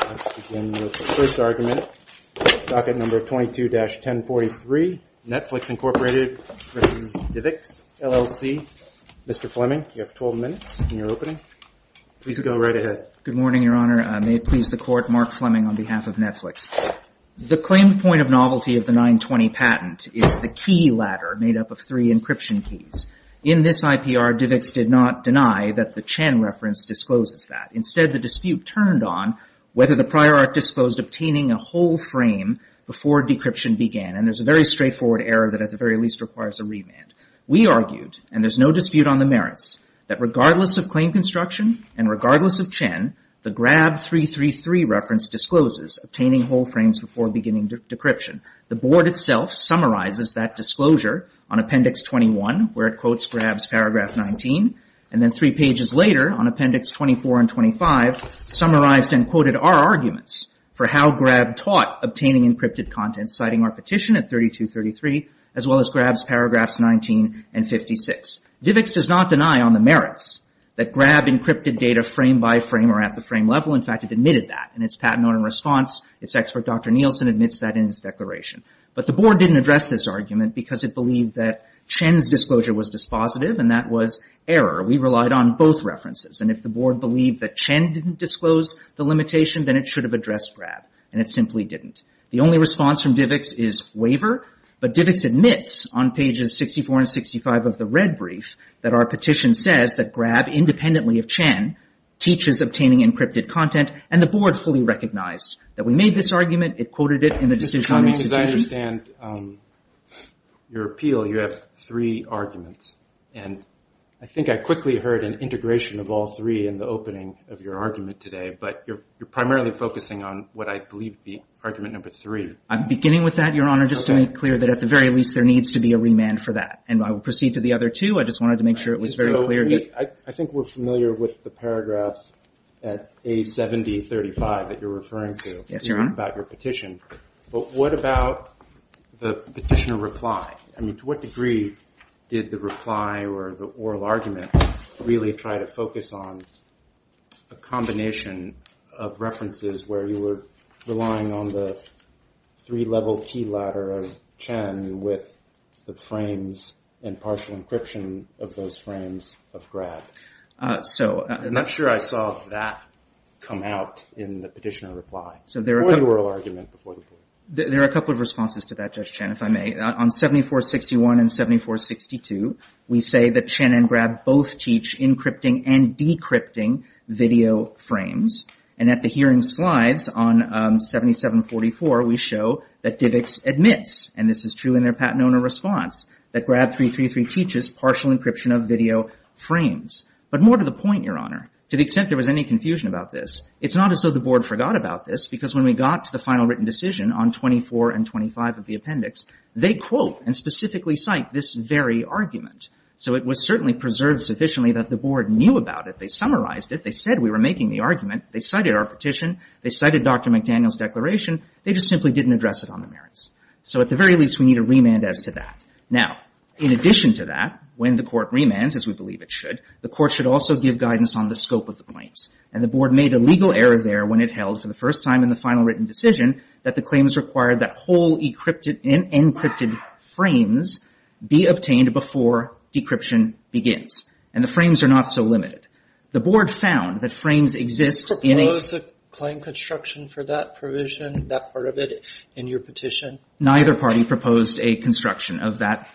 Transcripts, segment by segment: Mr. Fleming, you have 12 minutes in your opening. Please go right ahead. Good morning, Your Honor. May it please the Court, Mark Fleming on behalf of Netflix. The claimed point of novelty of the 920 patent is the key ladder made up of three encryption keys. In this IPR, DivX did not deny that the Chen reference discloses that. Instead, the dispute turned on whether the prior art disclosed obtaining a whole frame before decryption began. And there's a very straightforward error that at the very least requires a remand. We argued, and there's no dispute on the merits, that regardless of claim construction and regardless of Chen, the Grab 333 reference discloses obtaining whole frames before beginning decryption. The Board itself summarizes that disclosure on Appendix 21 where it quotes Grab's Paragraph 19, and then three pages later on Appendix 24 and 25 summarized and quoted our arguments for how Grab taught obtaining encrypted content, citing our petition at 3233, as well as Grab's Paragraphs 19 and 56. DivX does not deny on the merits that Grab encrypted data frame by frame or at the frame level. In fact, it admitted that in its patent order response. Its expert, Dr. Nielsen, admits that in his declaration. But the Board didn't address this argument because it believed that Chen's disclosure was dispositive and that was error. We relied on both references. And if the Board believed that Chen didn't disclose the limitation, then it should have addressed Grab. And it simply didn't. The only response from DivX is waiver. But DivX admits on pages 64 and 65 of the red brief that our petition says that Grab, independently of Chen, teaches obtaining encrypted content. And the Board fully recognized that we made this argument. It quoted it in the decision. Mr. Cheney, as I understand your appeal, you have three arguments. And I think I quickly heard an integration of all three in the opening of your argument today. But you're primarily focusing on what I believe to be argument number three. I'm beginning with that, Your Honor, just to make clear that at the very least there needs to be a remand for that. And I will proceed to the other two. I just wanted to make sure it was very clear. I think we're familiar with the paragraphs at A7035 that you're referring to. Yes, Your Honor. About your petition. But what about the petitioner reply? I mean, to what degree did the reply or the oral argument really try to focus on a combination of references where you were relying on the three-level key ladder of Chen with the frames and partial encryption of those frames of Grab? I'm not sure I saw that come out in the petitioner reply or the oral argument. There are a couple of responses to that, Judge Chen, if I may. On 7461 and 7462, we say that Chen and Grab both teach encrypting and decrypting video frames. And at the hearing slides on 7744, we show that DIVX admits, and this is true in their patent owner response, that Grab 333 teaches partial encryption of video frames. But more to the point, Your Honor, to the extent there was any confusion about this, it's not as though the Board forgot about this because when we got to the final written decision on 24 and 25 of the appendix, they quote and specifically cite this very argument. So it was certainly preserved sufficiently that the Board knew about it. They summarized it. They said we were making the argument. They cited our petition. They cited Dr. McDaniel's declaration. They just simply didn't address it on the merits. So at the very least, we need a remand as to that. Now, in addition to that, when the Court remands, as we believe it should, the Court should also give guidance on the scope of the claims. And the Board made a legal error there when it held for the first time in the final written decision that the claims required that whole encrypted frames be obtained before decryption begins. And the frames are not so limited. The Board found that frames exist in a- Propose a claim construction for that provision, that part of it, in your petition. Neither party proposed a construction of that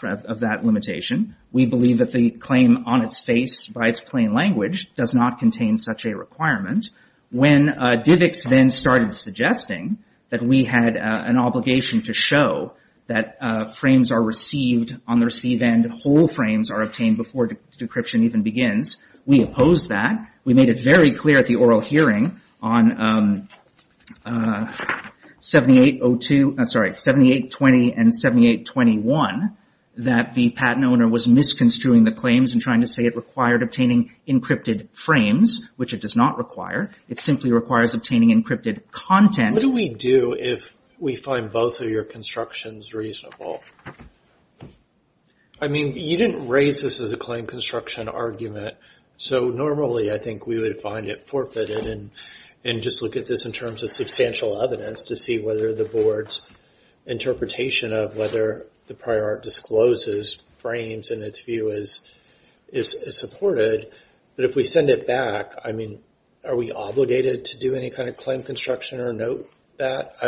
limitation. We believe that the claim on its face by its plain language does not contain such a requirement. When DVIX then started suggesting that we had an obligation to show that frames are received on the receive end, that whole frames are obtained before decryption even begins, we opposed that. We made it very clear at the oral hearing on 7802- I'm sorry, 7820 and 7821 that the patent owner was misconstruing the claims and trying to say it required obtaining encrypted frames, which it does not require. It simply requires obtaining encrypted content. What do we do if we find both of your constructions reasonable? I mean, you didn't raise this as a claim construction argument, so normally I think we would find it forfeited and just look at this in terms of substantial evidence to see whether the Board's interpretation of whether the prior art discloses frames in its view is supported. But if we send it back, I mean, are we obligated to do any kind of claim construction or note that?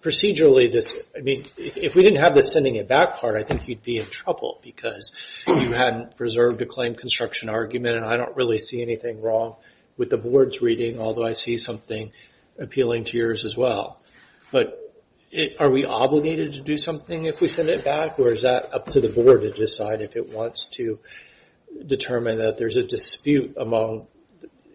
Procedurally, if we didn't have the sending it back part, I think you'd be in trouble because you hadn't preserved a claim construction argument, and I don't really see anything wrong with the Board's reading, although I see something appealing to yours as well. But are we obligated to do something if we send it back, or is that up to the Board to decide if it wants to determine that there's a dispute among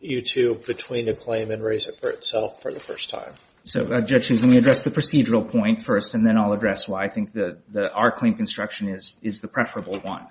you two between the claim and raise it for itself for the first time? So, Judge, let me address the procedural point first, and then I'll address why I think our claim construction is the preferable one.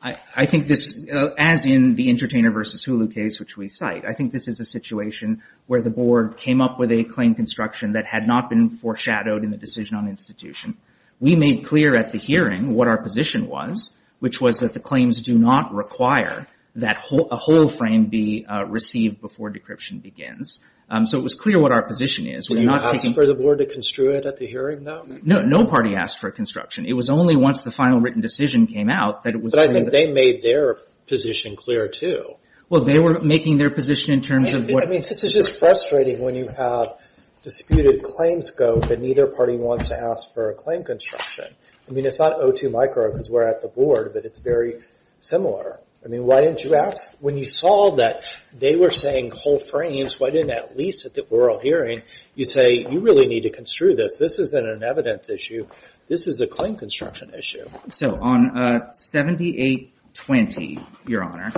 I think this, as in the Entertainer v. Hulu case, which we cite, I think this is a situation where the Board came up with a claim construction that had not been foreshadowed in the decision on institution. We made clear at the hearing what our position was, which was that the claims do not require that a whole frame be received before decryption begins. So it was clear what our position is. Were you not taking... Did they ask for the Board to construe it at the hearing, though? No, no party asked for a construction. It was only once the final written decision came out that it was... But I think they made their position clear, too. Well, they were making their position in terms of what... I mean, this is just frustrating when you have disputed claim scope and neither party wants to ask for a claim construction. I mean, it's not O2 micro because we're at the Board, but it's very similar. I mean, why didn't you ask? When you saw that they were saying whole frames, why didn't at least at the oral hearing you say you really need to construe this? This isn't an evidence issue. This is a claim construction issue. So on 7820, Your Honor,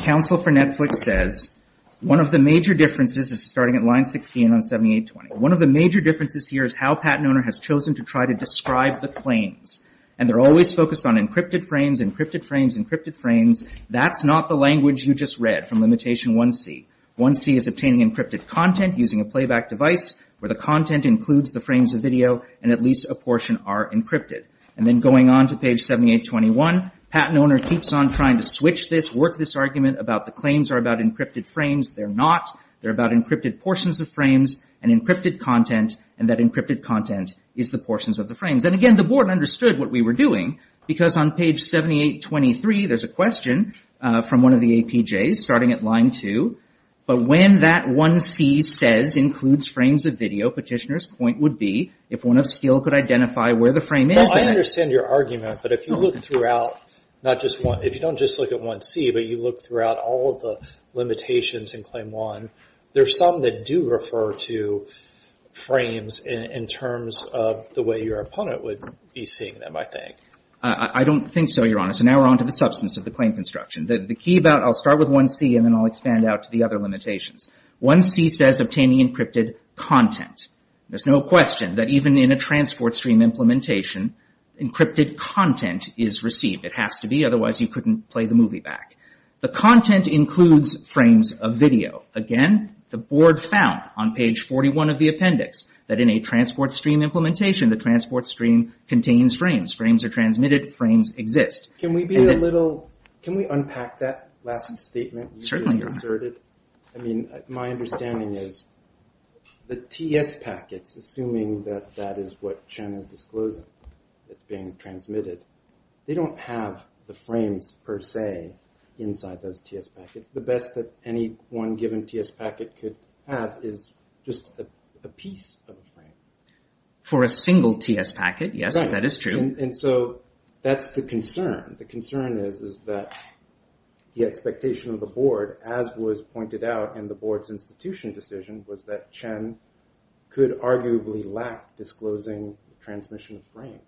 counsel for Netflix says one of the major differences is starting at line 16 on 7820. One of the major differences here is how patent owner has chosen to try to describe the claims. And they're always focused on encrypted frames, encrypted frames, encrypted frames. That's not the language you just read from limitation 1C. 1C is obtaining encrypted content using a playback device where the content includes the frames of video and at least a portion are encrypted. And then going on to page 7821, patent owner keeps on trying to switch this, work this argument about the claims are about encrypted frames. They're not. They're about encrypted portions of frames and encrypted content, and that encrypted content is the portions of the frames. And again, the Board understood what we were doing because on page 7823 there's a question from one of the APJs starting at line 2. But when that 1C says includes frames of video, petitioner's point would be if one of Steel could identify where the frame is. I understand your argument, but if you look throughout, if you don't just look at 1C, but you look throughout all of the limitations in claim 1, there's some that do refer to frames in terms of the way your opponent would be seeing them, I think. I don't think so, Your Honor. So now we're on to the substance of the claim construction. The key about, I'll start with 1C and then I'll expand out to the other limitations. 1C says obtaining encrypted content. There's no question that even in a transport stream implementation, encrypted content is received. It has to be, otherwise you couldn't play the movie back. The content includes frames of video. Again, the Board found on page 41 of the appendix that in a transport stream implementation, the transport stream contains frames. Frames are transmitted. Frames exist. Can we be a little, can we unpack that last statement you just asserted? I mean, my understanding is the TS packets, assuming that that is what Chen is disclosing that's being transmitted, they don't have the frames per se inside those TS packets. The best that any one given TS packet could have is just a piece of a frame. For a single TS packet, yes, that is true. And so that's the concern. The concern is that the expectation of the Board, as was pointed out in the Board's institution decision, was that Chen could arguably lack disclosing transmission frames.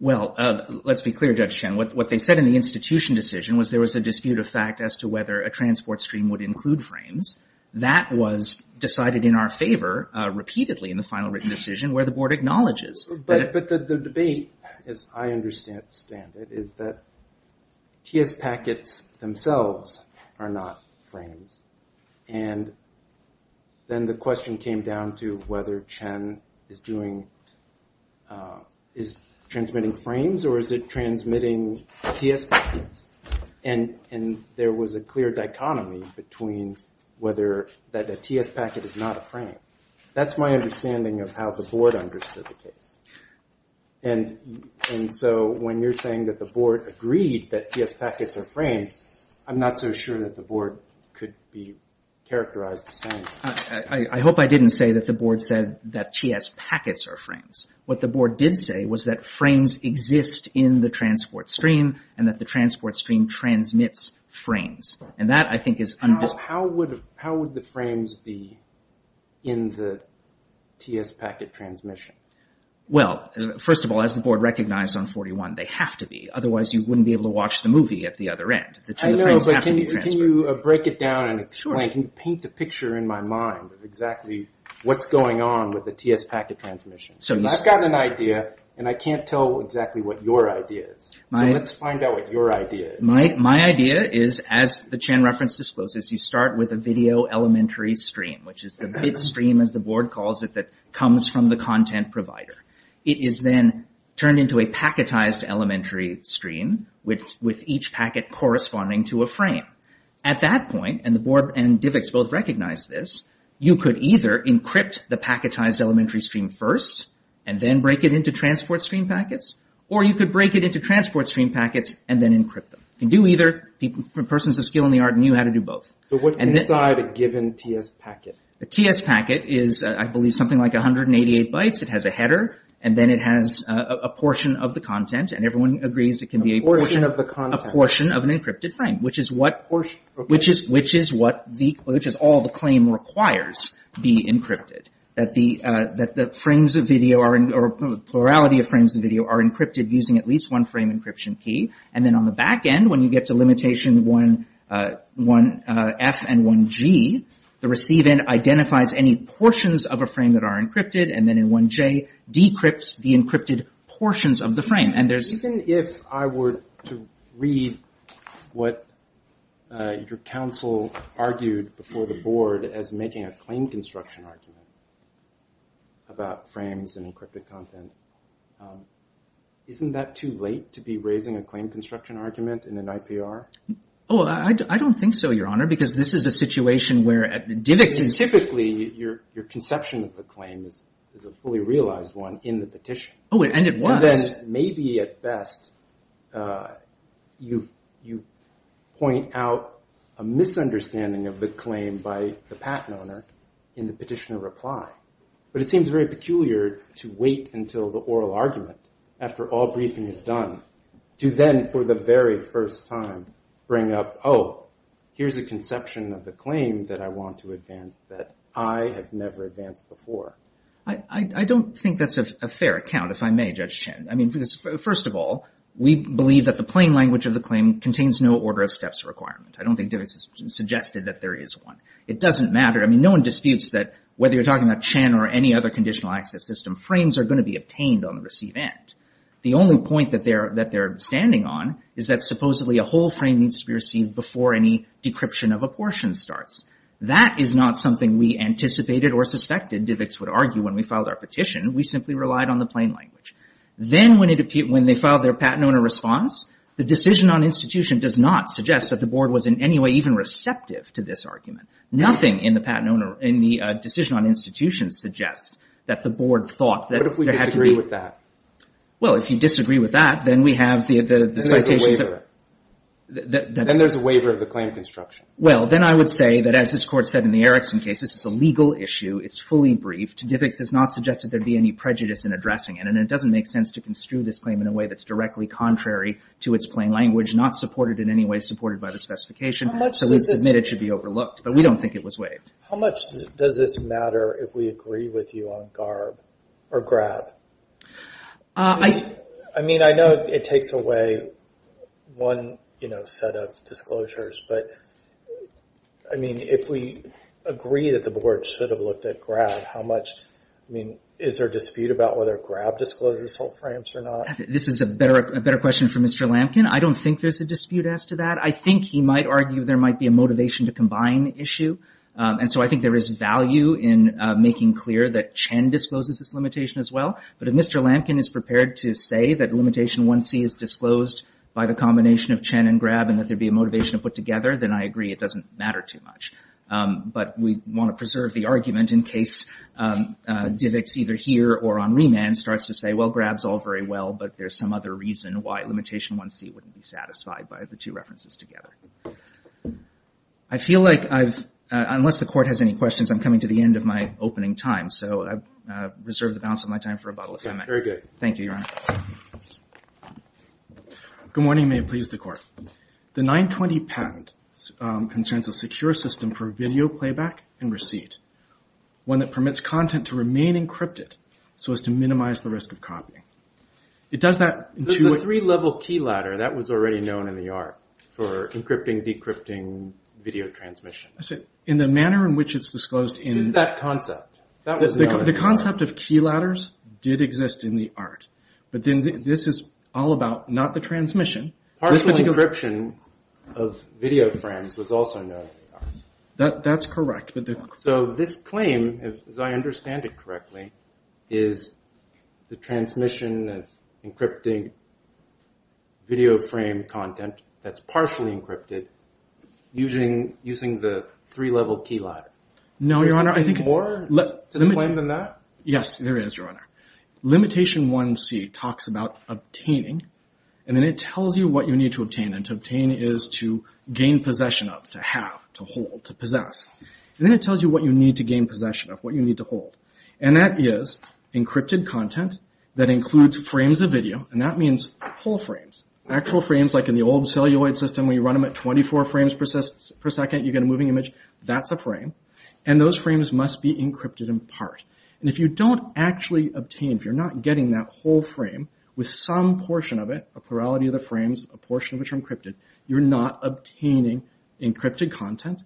Well, let's be clear, Judge Chen. What they said in the institution decision was there was a dispute of fact as to whether a transport stream would include frames. That was decided in our favor repeatedly in the final written decision where the Board acknowledges. But the debate, as I understand it, is that TS packets themselves are not frames. And then the question came down to whether Chen is transmitting frames or is it transmitting TS packets. And there was a clear dichotomy between whether a TS packet is not a frame. That's my understanding of how the Board understood the case. And so when you're saying that the Board agreed that TS packets are frames, I'm not so sure that the Board could be characterized the same. I hope I didn't say that the Board said that TS packets are frames. What the Board did say was that frames exist in the transport stream and that the transport stream transmits frames. How would the frames be in the TS packet transmission? Well, first of all, as the Board recognized on 41, they have to be. Otherwise, you wouldn't be able to watch the movie at the other end. Can you break it down and paint a picture in my mind of exactly what's going on with the TS packet transmission? I've got an idea and I can't tell exactly what your idea is. Let's find out what your idea is. My idea is, as the Chen reference discloses, you start with a video elementary stream, which is the bit stream, as the Board calls it, that comes from the content provider. It is then turned into a packetized elementary stream with each packet corresponding to a frame. At that point, and the Board and DIVX both recognized this, you could either encrypt the packetized elementary stream first and then break it into transport stream packets, or you could break it into transport stream packets and then encrypt them. You can do either. Persons of skill in the art knew how to do both. So what's inside a given TS packet? A TS packet is, I believe, something like 188 bytes. It has a header and then it has a portion of the content, and everyone agrees it can be a portion of an encrypted frame, which is all the claim requires be encrypted, that the plurality of frames of video are encrypted using at least one frame encryption key. And then on the back end, when you get to limitation 1F and 1G, the receive end identifies any portions of a frame that are encrypted, and then in 1J, decrypts the encrypted portions of the frame. Even if I were to read what your counsel argued before the Board as making a claim construction argument about frames and encrypted content, isn't that too late to be raising a claim construction argument in an IPR? Oh, I don't think so, Your Honor, because this is a situation where DIVX is— Typically, your conception of the claim is a fully realized one in the petition. Oh, and it was. And then, maybe at best, you point out a misunderstanding of the claim by the patent owner in the petitioner reply. But it seems very peculiar to wait until the oral argument, after all briefing is done, to then for the very first time bring up, oh, here's a conception of the claim that I want to advance that I have never advanced before. I don't think that's a fair account, if I may, Judge Chen. I mean, first of all, we believe that the plain language of the claim contains no order of steps requirement. I don't think DIVX has suggested that there is one. It doesn't matter. I mean, no one disputes that whether you're talking about Chen or any other conditional access system, frames are going to be obtained on the receive end. The only point that they're standing on is that supposedly a whole frame needs to be received before any decryption of a portion starts. That is not something we anticipated or suspected DIVX would argue when we filed our petition. We simply relied on the plain language. Then when they filed their patent owner response, the decision on institution does not suggest that the board was in any way even receptive to this argument. Nothing in the decision on institution suggests that the board thought that there had to be... What if we disagree with that? Well, if you disagree with that, then we have the citations... Then there's a waiver. Then there's a waiver of the claim construction. Well, then I would say that as this court said in the Erickson case, this is a legal issue. It's fully briefed. DIVX has not suggested there'd be any prejudice in addressing it, and it doesn't make sense to construe this claim in a way that's directly contrary to its plain language, not supported in any way, supported by the specification. So we submit it should be overlooked, but we don't think it was waived. How much does this matter if we agree with you on GARB or GRAB? I mean, I know it takes away one set of disclosures, but, I mean, if we agree that the board should have looked at GRAB, how much... I mean, is there a dispute about whether GRAB discloses these whole frames or not? This is a better question for Mr. Lampkin. I don't think there's a dispute as to that. I think he might argue there might be a motivation to combine the issue, and so I think there is value in making clear that Chen discloses this limitation as well. But if Mr. Lampkin is prepared to say that limitation 1C is disclosed by a combination of Chen and GRAB and that there'd be a motivation to put together, then I agree it doesn't matter too much. But we want to preserve the argument in case Divick's either here or on remand starts to say, well, GRAB's all very well, but there's some other reason why limitation 1C wouldn't be satisfied by the two references together. I feel like I've... Unless the Court has any questions, I'm coming to the end of my opening time, so I've reserved the balance of my time for a bottle of M&M. Very good. Thank you, Your Honor. Good morning. May it please the Court. The 920 patent concerns a secure system for video playback and receipt, one that permits content to remain encrypted so as to minimize the risk of copying. It does that... The three-level key ladder, that was already known in the art for encrypting, decrypting, video transmission. In the manner in which it's disclosed in... It's that concept. The concept of key ladders did exist in the art, but then this is all about not the transmission. Partial encryption of video frames was also known in the art. That's correct. So this claim, as I understand it correctly, is the transmission of encrypting video frame content that's partially encrypted using the three-level key ladder. No, Your Honor, I think... Is there more to the claim than that? Yes, there is, Your Honor. Limitation 1C talks about obtaining, and then it tells you what you need to obtain, and to obtain is to gain possession of, to have, to hold, to possess. And then it tells you what you need to gain possession of, what you need to hold. And that is encrypted content that includes frames of video, and that means whole frames, actual frames like in the old celluloid system where you run them at 24 frames per second, you get a moving image, that's a frame, and those frames must be encrypted in part. And if you don't actually obtain, if you're not getting that whole frame with some portion of it, a plurality of the frames, a portion of which are encrypted, you're not obtaining encrypted content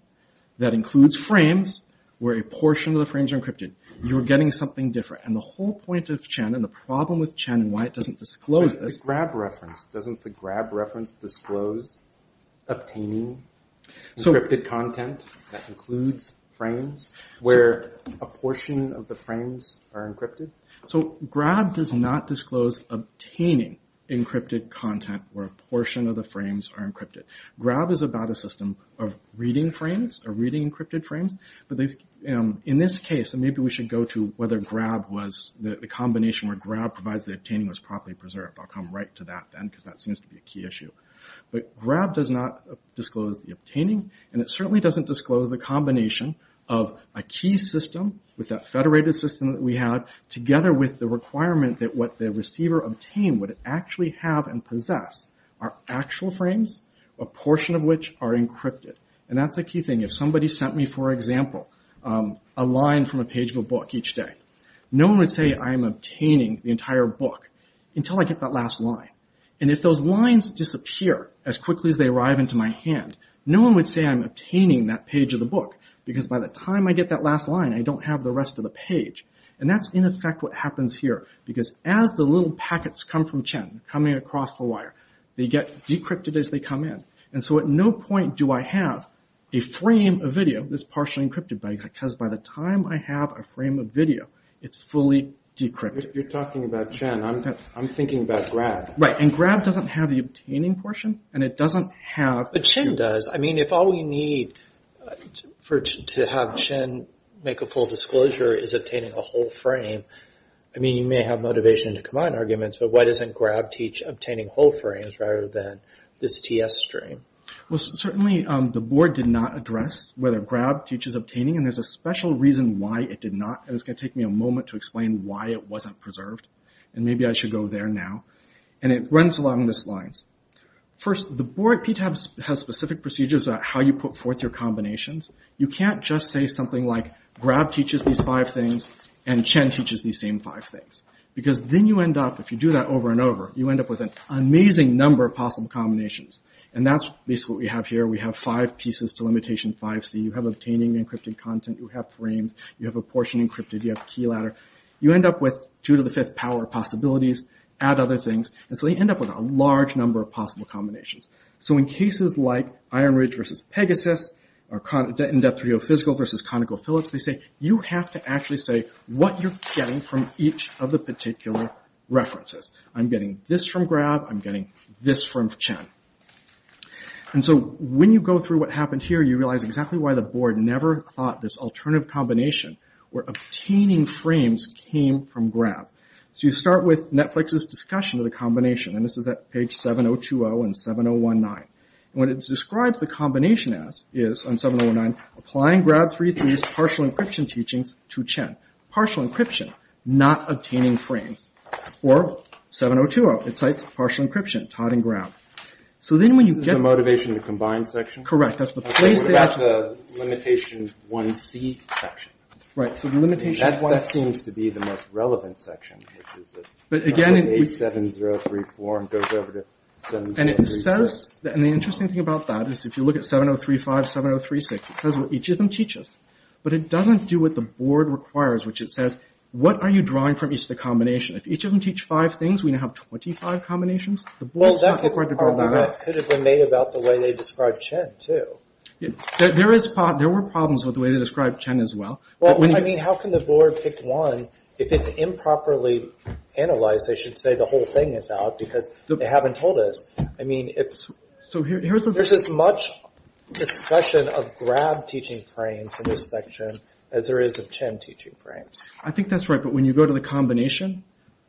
that includes frames where a portion of the frames are encrypted. You're getting something different. And the whole point of Chen and the problem with Chen and why it doesn't disclose this... ...content that includes frames where a portion of the frames are encrypted. So Grab does not disclose obtaining encrypted content where a portion of the frames are encrypted. Grab is about a system of reading frames, or reading encrypted frames, but in this case, and maybe we should go to whether Grab was, the combination where Grab provides the obtaining was properly preserved. I'll come right to that then because that seems to be a key issue. But Grab does not disclose the obtaining, and it certainly doesn't disclose the combination of a key system with that federated system that we had, together with the requirement that what the receiver obtained would actually have and possess are actual frames, a portion of which are encrypted. And that's a key thing. If somebody sent me, for example, a line from a page of a book each day, no one would say, I'm obtaining the entire book until I get that last line. And if those lines disappear as quickly as they arrive into my hand, no one would say I'm obtaining that page of the book because by the time I get that last line, I don't have the rest of the page. And that's in effect what happens here because as the little packets come from Chen, coming across the wire, they get decrypted as they come in. And so at no point do I have a frame of video that's partially encrypted because by the time I have a frame of video, it's fully decrypted. You're talking about Chen. I'm thinking about Grab. Right, and Grab doesn't have the obtaining portion, and it doesn't have... But Chen does. I mean, if all we need to have Chen make a full disclosure is obtaining a whole frame, I mean, you may have motivation to combine arguments, but why doesn't Grab teach obtaining whole frames rather than this TS stream? Well, certainly the board did not address whether Grab teaches obtaining, and there's a special reason why it did not. And it's going to take me a moment to explain why it wasn't preserved. And maybe I should go there now. And it runs along these lines. First, the board at PTAB has specific procedures about how you put forth your combinations. You can't just say something like, Grab teaches these five things, and Chen teaches these same five things. Because then you end up, if you do that over and over, you end up with an amazing number of possible combinations. And that's basically what we have here. We have five pieces to limitation 5c. You have obtaining encrypted content, you have frames, you have a portion encrypted, you have a key ladder. You end up with 2 to the 5th power possibilities. Add other things. And so you end up with a large number of possible combinations. So in cases like Iron Ridge versus Pegasus, or In Depth 3.0 Physical versus ConocoPhillips, they say, you have to actually say what you're getting from each of the particular references. I'm getting this from Grab, I'm getting this from Chen. And so when you go through what happened here, you realize exactly why the board never thought this alternative combination where obtaining frames came from Grab. So you start with Netflix's discussion of the combination, and this is at page 702.0 and 701.9. And what it describes the combination as is, on 701.9, applying Grab 3.3's partial encryption teachings to Chen. Partial encryption, not obtaining frames. Or 702.0, it cites partial encryption, Todd and Grab. This is the motivation to combine section? Correct. I'm talking about the Limitation 1c section. Right, so the Limitation 1c. That seems to be the most relevant section, which is at 703.4 and goes over to 703.6. And it says, and the interesting thing about that is if you look at 703.5, 703.6, it says what each of them teaches. But it doesn't do what the board requires, which it says, what are you drawing from each of the combinations? If each of them teach five things, we now have 25 combinations? Well, that's a problem that could have been made about the way they described Chen, too. There were problems with the way they described Chen as well. Well, I mean, how can the board pick one if it's improperly analyzed? They should say the whole thing is out because they haven't told us. I mean, there's as much discussion of Grab teaching frames in this section as there is of Chen teaching frames. I think that's right, but when you go to the combination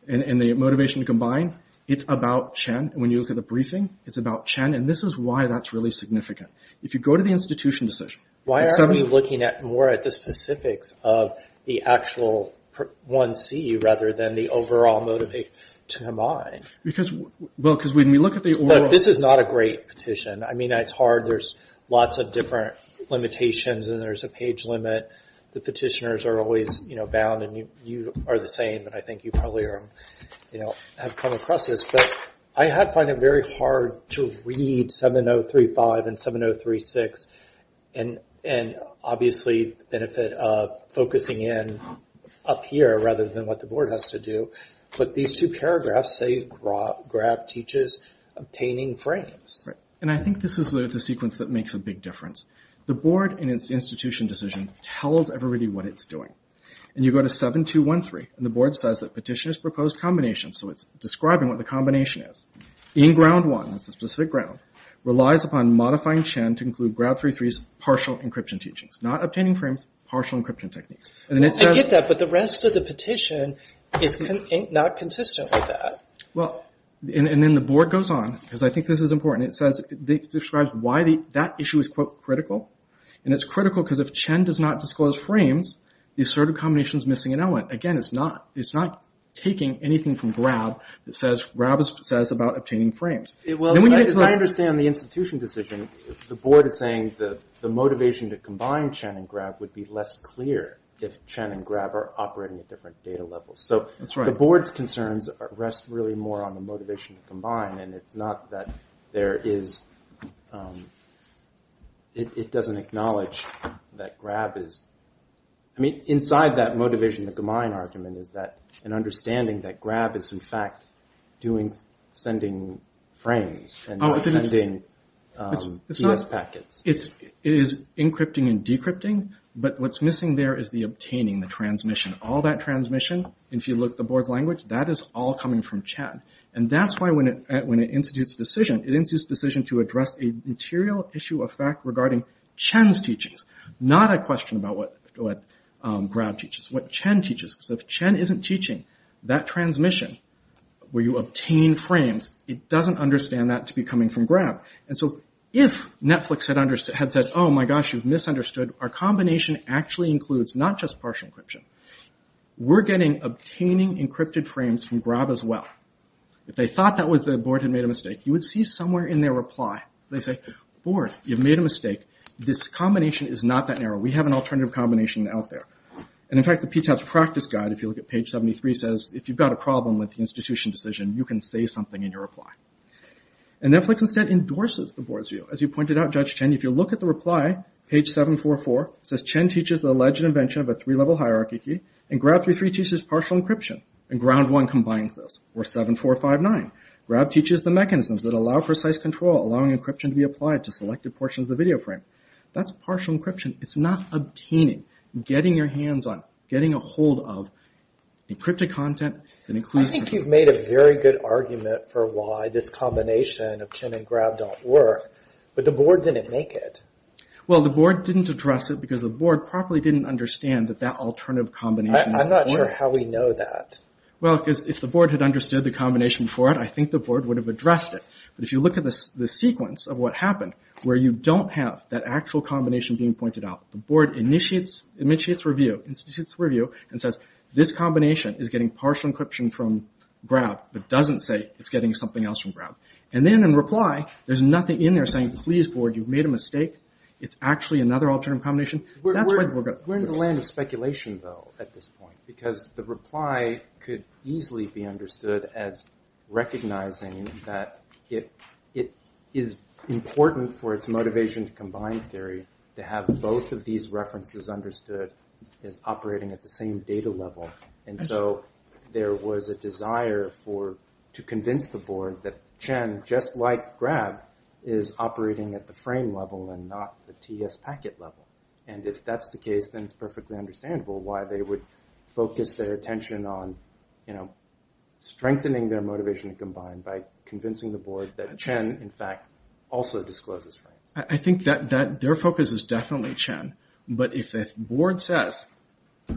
and the motivation to combine, it's about Chen. When you look at the briefing, it's about Chen, and this is why that's really significant. If you go to the institution decision... Why are we looking more at the specifics of the actual 1C rather than the overall motivation to combine? Because when we look at the... Look, this is not a great petition. I mean, it's hard. There's lots of different limitations, and there's a page limit. The petitioners are always bound, and you are the same, and I think you probably have come across this, but I find it very hard to read 7035 and 7036 and obviously the benefit of focusing in up here rather than what the board has to do. But these two paragraphs say Grab teaches obtaining frames. And I think this is the sequence that makes a big difference. The board in its institution decision tells everybody what it's doing. And you go to 7213, and the board says that petitioner's proposed combination, so it's describing what the combination is, in Ground 1, it's a specific ground, relies upon modifying Chen to include Grab 33's partial encryption teachings, not obtaining frames, partial encryption techniques. I get that, but the rest of the petition is not consistent with that. And then the board goes on, because I think this is important. It describes why that issue is, quote, critical. And it's critical because if Chen does not disclose frames, the assertive combination is missing an element. Again, it's not taking anything from Grab. Grab says about obtaining frames. As I understand the institution decision, the board is saying the motivation to combine Chen and Grab would be less clear if Chen and Grab are operating at different data levels. And it's not that there is... It doesn't acknowledge that Grab is... I mean, inside that motivation to combine argument is that an understanding that Grab is, in fact, sending frames and not sending TS packets. It is encrypting and decrypting, but what's missing there is the obtaining, the transmission. All that transmission, if you look at the board's language, that is all coming from Chen. And that's why when it institutes a decision, it institutes a decision to address a material issue of fact regarding Chen's teachings, not a question about what Grab teaches, what Chen teaches. Because if Chen isn't teaching that transmission, where you obtain frames, it doesn't understand that to be coming from Grab. And so if Netflix had said, oh my gosh, you've misunderstood, our combination actually includes not just partial encryption. We're getting obtaining encrypted frames from Grab as well. If they thought that the board had made a mistake, you would see somewhere in their reply. They'd say, board, you've made a mistake. This combination is not that narrow. We have an alternative combination out there. And in fact, the PTAP's practice guide, if you look at page 73, says, if you've got a problem with the institution decision, you can say something in your reply. And Netflix instead endorses the board's view. As you pointed out, Judge Chen, if you look at the reply, page 744, it says Chen teaches the alleged invention of a three-level hierarchy key. And Grab 33 teaches partial encryption. And Ground One combines those. Or 7459, Grab teaches the mechanisms that allow precise control, allowing encryption to be applied to selected portions of the video frame. That's partial encryption. It's not obtaining, getting your hands on, getting a hold of encrypted content. I think you've made a very good argument for why this combination of Chen and Grab don't work. But the board didn't make it. Well, the board didn't address it because the board probably didn't understand that that alternative combination... I'm not sure how we know that. Well, because if the board had understood the combination for it, I think the board would have addressed it. But if you look at the sequence of what happened, where you don't have that actual combination being pointed out, the board initiates review, institutes review, and says, this combination is getting partial encryption from Grab, but doesn't say it's getting something else from Grab. And then in reply, there's nothing in there saying, please, board, you've made a mistake. It's actually another alternative combination. We're in the land of speculation, though, at this point. Because the reply could easily be understood as recognizing that it is important for its motivation to combine theory to have both of these references understood as operating at the same data level. And so there was a desire to convince the board that Chen, just like Grab, is operating at the frame level and not the TS packet level. And if that's the case, then it's perfectly understandable why they would focus their attention on strengthening their motivation to combine by convincing the board that Chen, in fact, also discloses frames. I think that their focus is definitely Chen. But if the board says,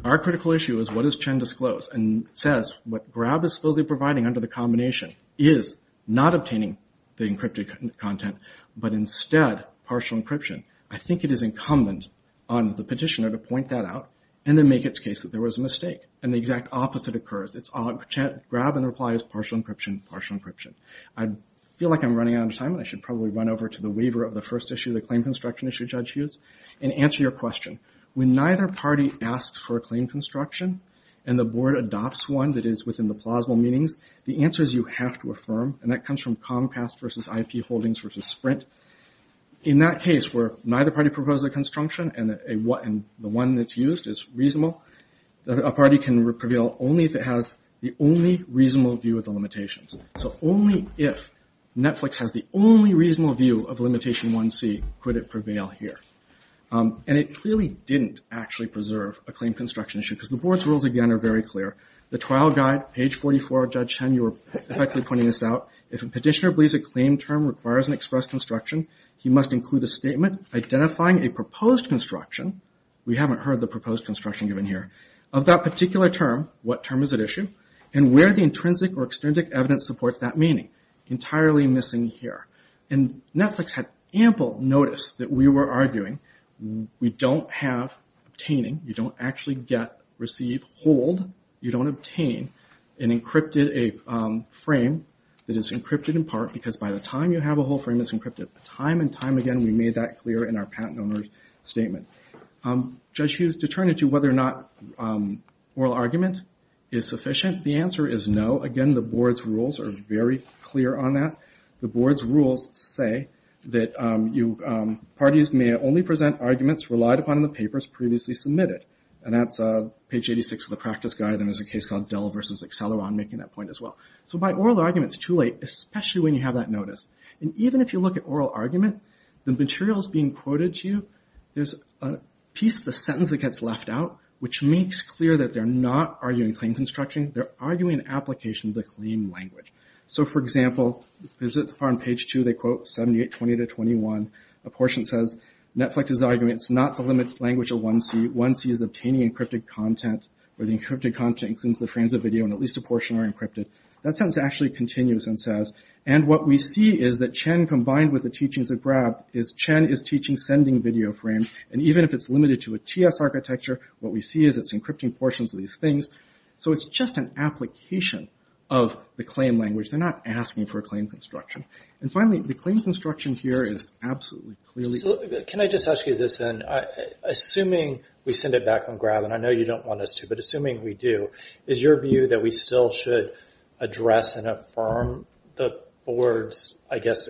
our critical issue is what does Chen disclose, and says what Grab is supposedly providing under the combination is not obtaining the encrypted content, but instead partial encryption, I think it is incumbent on the petitioner to point that out and then make its case that there was a mistake. And the exact opposite occurs. It's Grab in reply is partial encryption, partial encryption. I feel like I'm running out of time, and I should probably run over to the waiver of the first issue, the claim construction issue, Judge Hughes, and answer your question. When neither party asks for a claim construction and the board adopts one that is within the plausible meanings, the answers you have to affirm, and that comes from Comcast versus IP Holdings versus Sprint. In that case, where neither party proposes a construction and the one that's used is reasonable, a party can prevail only if it has the only reasonable view of the limitations. So only if Netflix has the only reasonable view of limitation 1C could it prevail here. And it clearly didn't actually preserve a claim construction issue because the board's rules, again, are very clear. The trial guide, page 44 of Judge Chen, you were effectively pointing this out. If a petitioner believes a claim term requires an express construction, he must include a statement identifying a proposed construction, we haven't heard the proposed construction given here, of that particular term, what term is at issue, and where the intrinsic or extrinsic evidence supports that meaning. Entirely missing here. And Netflix had ample notice that we were arguing we don't have obtaining, you don't actually get, receive, hold, you don't obtain a frame that is encrypted in part because by the time you have a whole frame that's encrypted time and time again we made that clear in our patent owner's statement. Judge Hughes, to turn it to whether or not oral argument is sufficient, the answer is no. Again, the board's rules are very clear on that. The board's rules say that parties may only present arguments relied upon in the papers previously submitted. And that's page 86 of the practice guide and there's a case called Dell versus Acceleron making that point as well. So by oral argument it's too late, especially when you have that notice. And even if you look at oral argument, the materials being quoted to you, there's a piece of the sentence that gets left out which makes clear that they're not arguing claim construction, they're arguing an application of the claim language. So for example, visit the far end, page two, they quote 7820-21, a portion says, Netflix is arguing it's not the limited language of 1C, 1C is obtaining encrypted content, where the encrypted content includes the frames of video and at least a portion are encrypted. That sentence actually continues and says, and what we see is that Chen combined with the teachings of Grab is Chen is teaching sending video frames and even if it's limited to a TS architecture, what we see is it's encrypting portions of these things. So it's just an application of the claim language. They're not asking for a claim construction. And finally, the claim construction here is absolutely clearly... Can I just ask you this then? Assuming we send it back on Grab and I know you don't want us to, but assuming we do, is your view that we still should address and affirm the board's, I guess,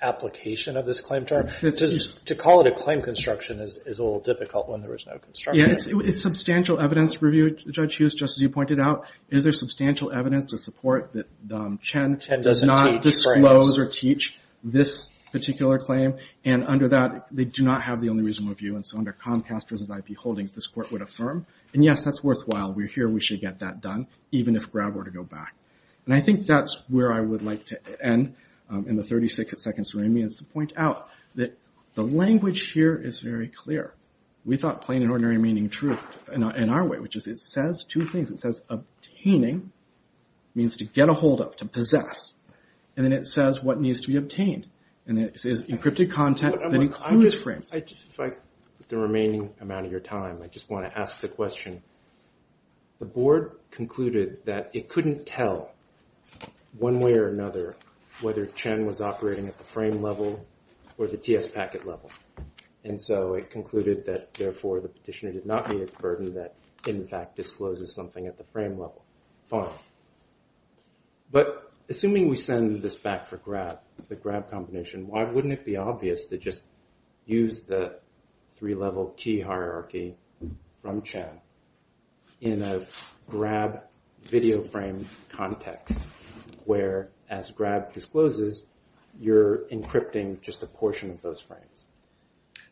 application of this claim term? To call it a claim construction is a little difficult when there is no construction. It's substantial evidence review, Judge Hughes, just as you pointed out. Is there substantial evidence to support that Chen does not disclose or teach this particular claim and under that, they do not have the only reasonable view and so under Comcast versus IP holdings, this court would affirm. And yes, that's worthwhile. We're here. We should get that done, even if Grab were to go back. And I think that's where I would like to end in the 36 seconds remaining. I just want to point out that the language here is very clear. We thought plain and ordinary meaning truth in our way, which is it says two things. It says obtaining means to get a hold of, to possess. And then it says what needs to be obtained. And it says encrypted content that includes frames. With the remaining amount of your time, I just want to ask the question. The board concluded that it couldn't tell one way or another whether Chen was operating at the frame level or the TS packet level. And so it concluded that therefore the petitioner did not meet its burden that in fact discloses something at the frame level. Fine. But assuming we send this back for Grab, the Grab combination, why wouldn't it be obvious to just use the three-level key hierarchy from Chen in a Grab video frame context where as Grab discloses, you're encrypting just a portion of those frames?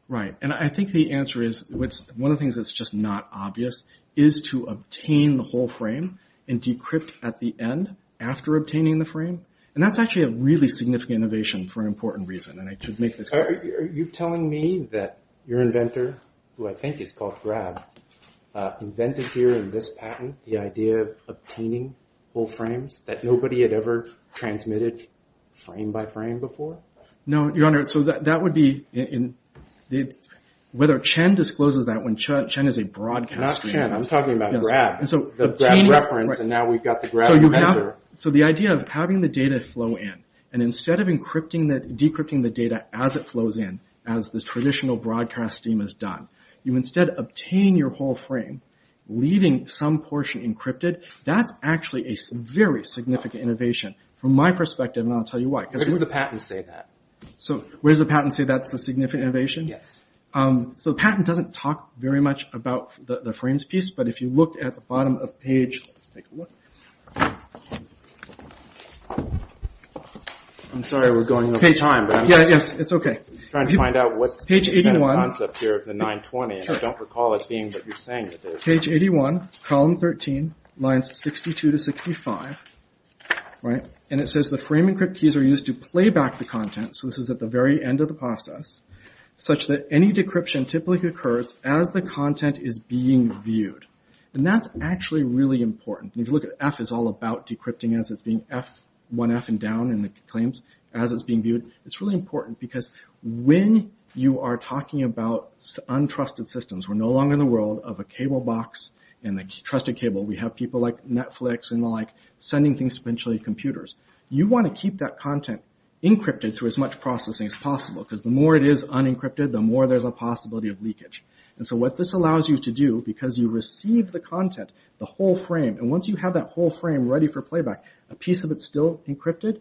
Right. And I think the answer is one of the things that's just not obvious is to obtain the whole frame and decrypt at the end after obtaining the frame. And that's actually a really significant innovation for an important reason. And I should make this clear. Are you telling me that your inventor, who I think is called Grab, invented here in this patent the idea of obtaining whole frames that nobody had ever transmitted frame by frame before? No, Your Honor. So that would be whether Chen discloses that when Chen is a broadcast user. Not Chen. I'm talking about Grab. The Grab reference and now we've got the Grab inventor. So the idea of having the data flow in and instead of decrypting the data as it flows in as the traditional broadcast stream is done, you instead obtain your whole frame leaving some portion encrypted. That's actually a very significant innovation from my perspective and I'll tell you why. Where does the patent say that? So where does the patent say that's a significant innovation? Yes. So the patent doesn't talk very much about the frames piece but if you look at the bottom of the page, let's take a look. I'm sorry we're going over time. Yes, it's okay. I'm trying to find out what's the concept here of the 920 and I don't recall it being what you're saying it is. Page 81, column 13, lines 62 to 65. And it says the frame encrypt keys are used to play back the content so this is at the very end of the process such that any decryption typically occurs as the content is being viewed. And that's actually really important and if you look at F it's all about decrypting as it's being F, one F and down in the claims as it's being viewed. It's really important because when you are talking about untrusted systems we're no longer in the world of a cable box and a trusted cable. We have people like Netflix and the like sending things to potentially computers. You want to keep that content encrypted through as much processing as possible because the more it is unencrypted the more there's a possibility of leakage. And so what this allows you to do because you receive the content, the whole frame and once you have that whole frame ready for playback a piece of it's still encrypted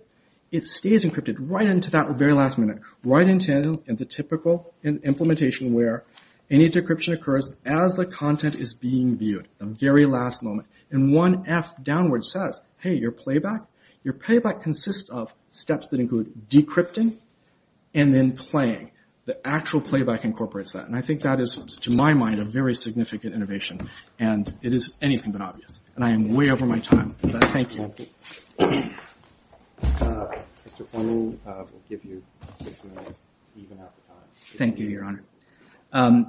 it stays encrypted right into that very last minute. Right into the typical implementation where any decryption occurs as the content is being viewed the very last moment. And one F downward says hey your playback your playback consists of steps that include decrypting and then playing. The actual playback incorporates that and I think that is to my mind a very significant innovation and it is anything but obvious. And I am way over my time. Thank you. Thank you your honor.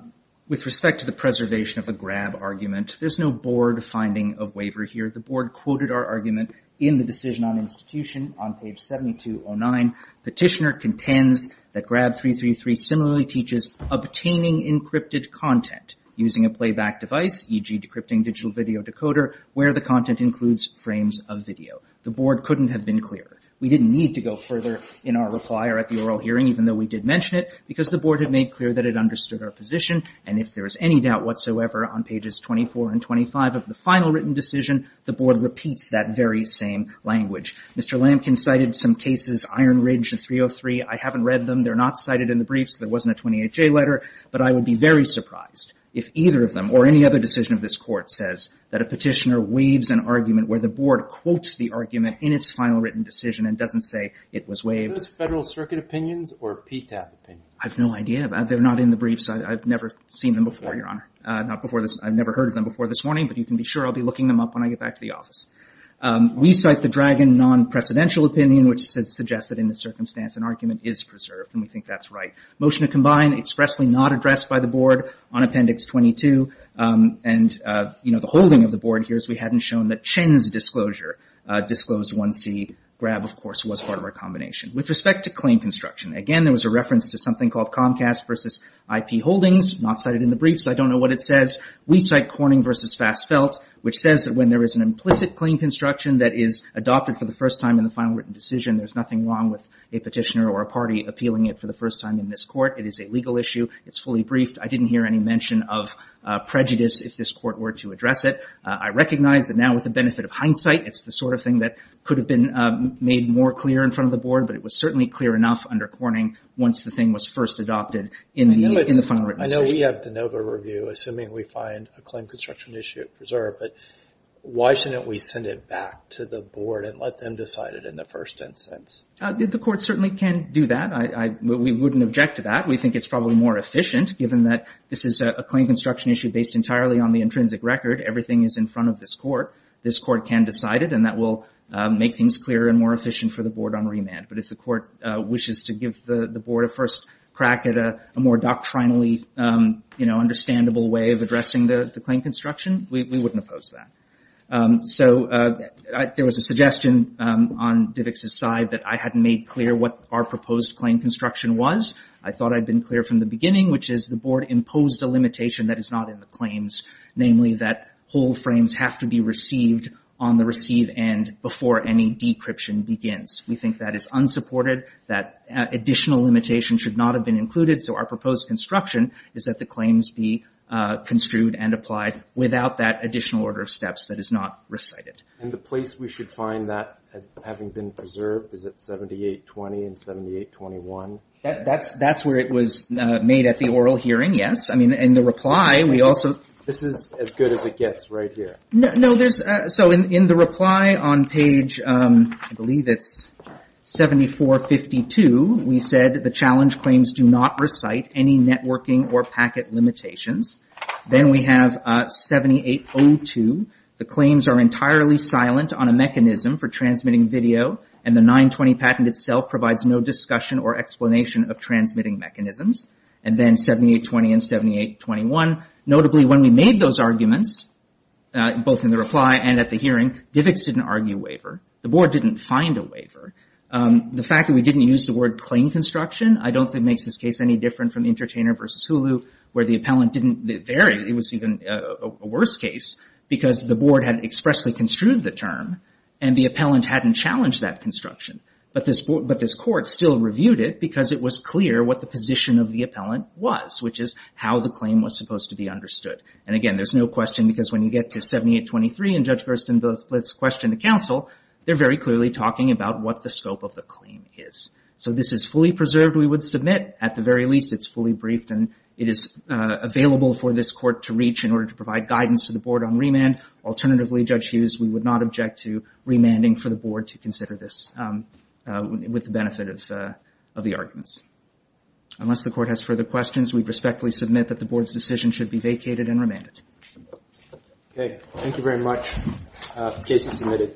With respect to the preservation of a grab argument there's no board finding of waiver here. The board quoted our argument in the decision on institution on page 7209. Petitioner contends that grab 333 similarly teaches obtaining encrypted content using a playback device e.g. decrypting digital video decoder where the content includes frames of video. The board couldn't have been clearer. We didn't need to go further in our reply or at the oral hearing even though we did mention it because the board had made clear that it understood our position and if there is any doubt whatsoever on pages 24 and 25 of the final written decision the board repeats that very same language. Mr. Lampkin cited some cases Iron Ridge 303 I haven't read them they're not cited in the briefs there wasn't a 28-J letter but I would be very surprised if either of them or any other decision of this court says that a petitioner waives an argument where the board quotes the argument in its final written decision and doesn't say it was waived. Are those Federal Circuit opinions or PTAP opinions? I have no idea they're not in the briefs I've never seen them before your honor. I've never heard of them before this morning but you can be sure I'll be looking them up when I get back to the office. We cite the Dragon non-presidential opinion which suggests that in this circumstance an argument is preserved and we think that's right. Motion to combine expressly not addressed by the board on appendix 22 and you know the holding of the board here is we hadn't shown that Chen's disclosure disclosed 1C Grab of course was part of our combination. With respect to claim construction again there was a reference to something called Comcast versus IP Holdings not cited in the briefs I don't know what it says we cite Corning versus Fassfelt which says that when there is an implicit claim construction that is adopted for the first time in the final written decision there's nothing wrong with a petitioner or a party appealing it for the first time in this court. It is a legal issue. It's fully briefed. I didn't hear any mention of prejudice if this court were to address it. I recognize that now with the benefit of hindsight it's the sort of thing that could have been made more clear in front of the board but it was certainly clear enough under Corning once the thing was first adopted in the final written decision. I know we have de novo review assuming we find a claim construction issue preserved but why shouldn't we send it back to the board and let them decide it in the first instance? The court certainly can do that. We wouldn't object to that. We think it's probably more efficient given that this is a claim construction issue based entirely on the intrinsic record. Everything is in front of this court. This court can decide it and that will make things clearer and more efficient for the board on remand. But if the court wishes to give the board a first crack at a more doctrinally understandable way of addressing the claim construction we wouldn't oppose that. So there was a suggestion on Divick's side that I hadn't made clear what our proposed claim construction was. I thought I'd been clear from the beginning which is the board imposed a limitation that is not in the claims namely that whole frames have to be received on the receive end before any decryption begins. We think that is unsupported that additional limitation should not have been included so our proposed construction is that the claims be construed and applied without that additional order of steps that is not recited. And the place we should find that as having been preserved is at 7820 and 7821. That's where it was made at the oral hearing, yes. I mean in the reply we also This is as good as it gets right here. No, so in the reply on page I believe it's 7452 we said the challenge claims do not recite any networking or packet limitations. Then we have 7802 the claims are entirely silent on a mechanism for transmitting video and the 920 patent itself provides no discussion or explanation of transmitting mechanisms and then 7820 and 7821. Notably when we made those arguments both in the reply and at the hearing DIVX didn't argue waiver. The board didn't find a waiver. The fact that we didn't use the word claim construction I don't think makes this case any different from Entertainer versus Hulu where the appellant didn't vary it was even a worse case because the board had expressly construed the term and the appellant hadn't challenged that construction but this court still reviewed it because it was clear what the position of the appellant was which is how the claim was supposed to be understood. And again there's no question because when you get to 7823 and Judge Gerstenblitz questioned the counsel they're very clearly talking about what the scope of the claim is. So this is fully preserved we would submit at the very least it's fully briefed and it is available for this court to reach in order to provide guidance to the board on remand. Alternatively Judge Hughes we would not object to asking the board to consider this with the benefit of the arguments. Unless the court has further questions we respectfully submit that the board's decision should be vacated and remanded. Okay, thank you very much. Case is submitted.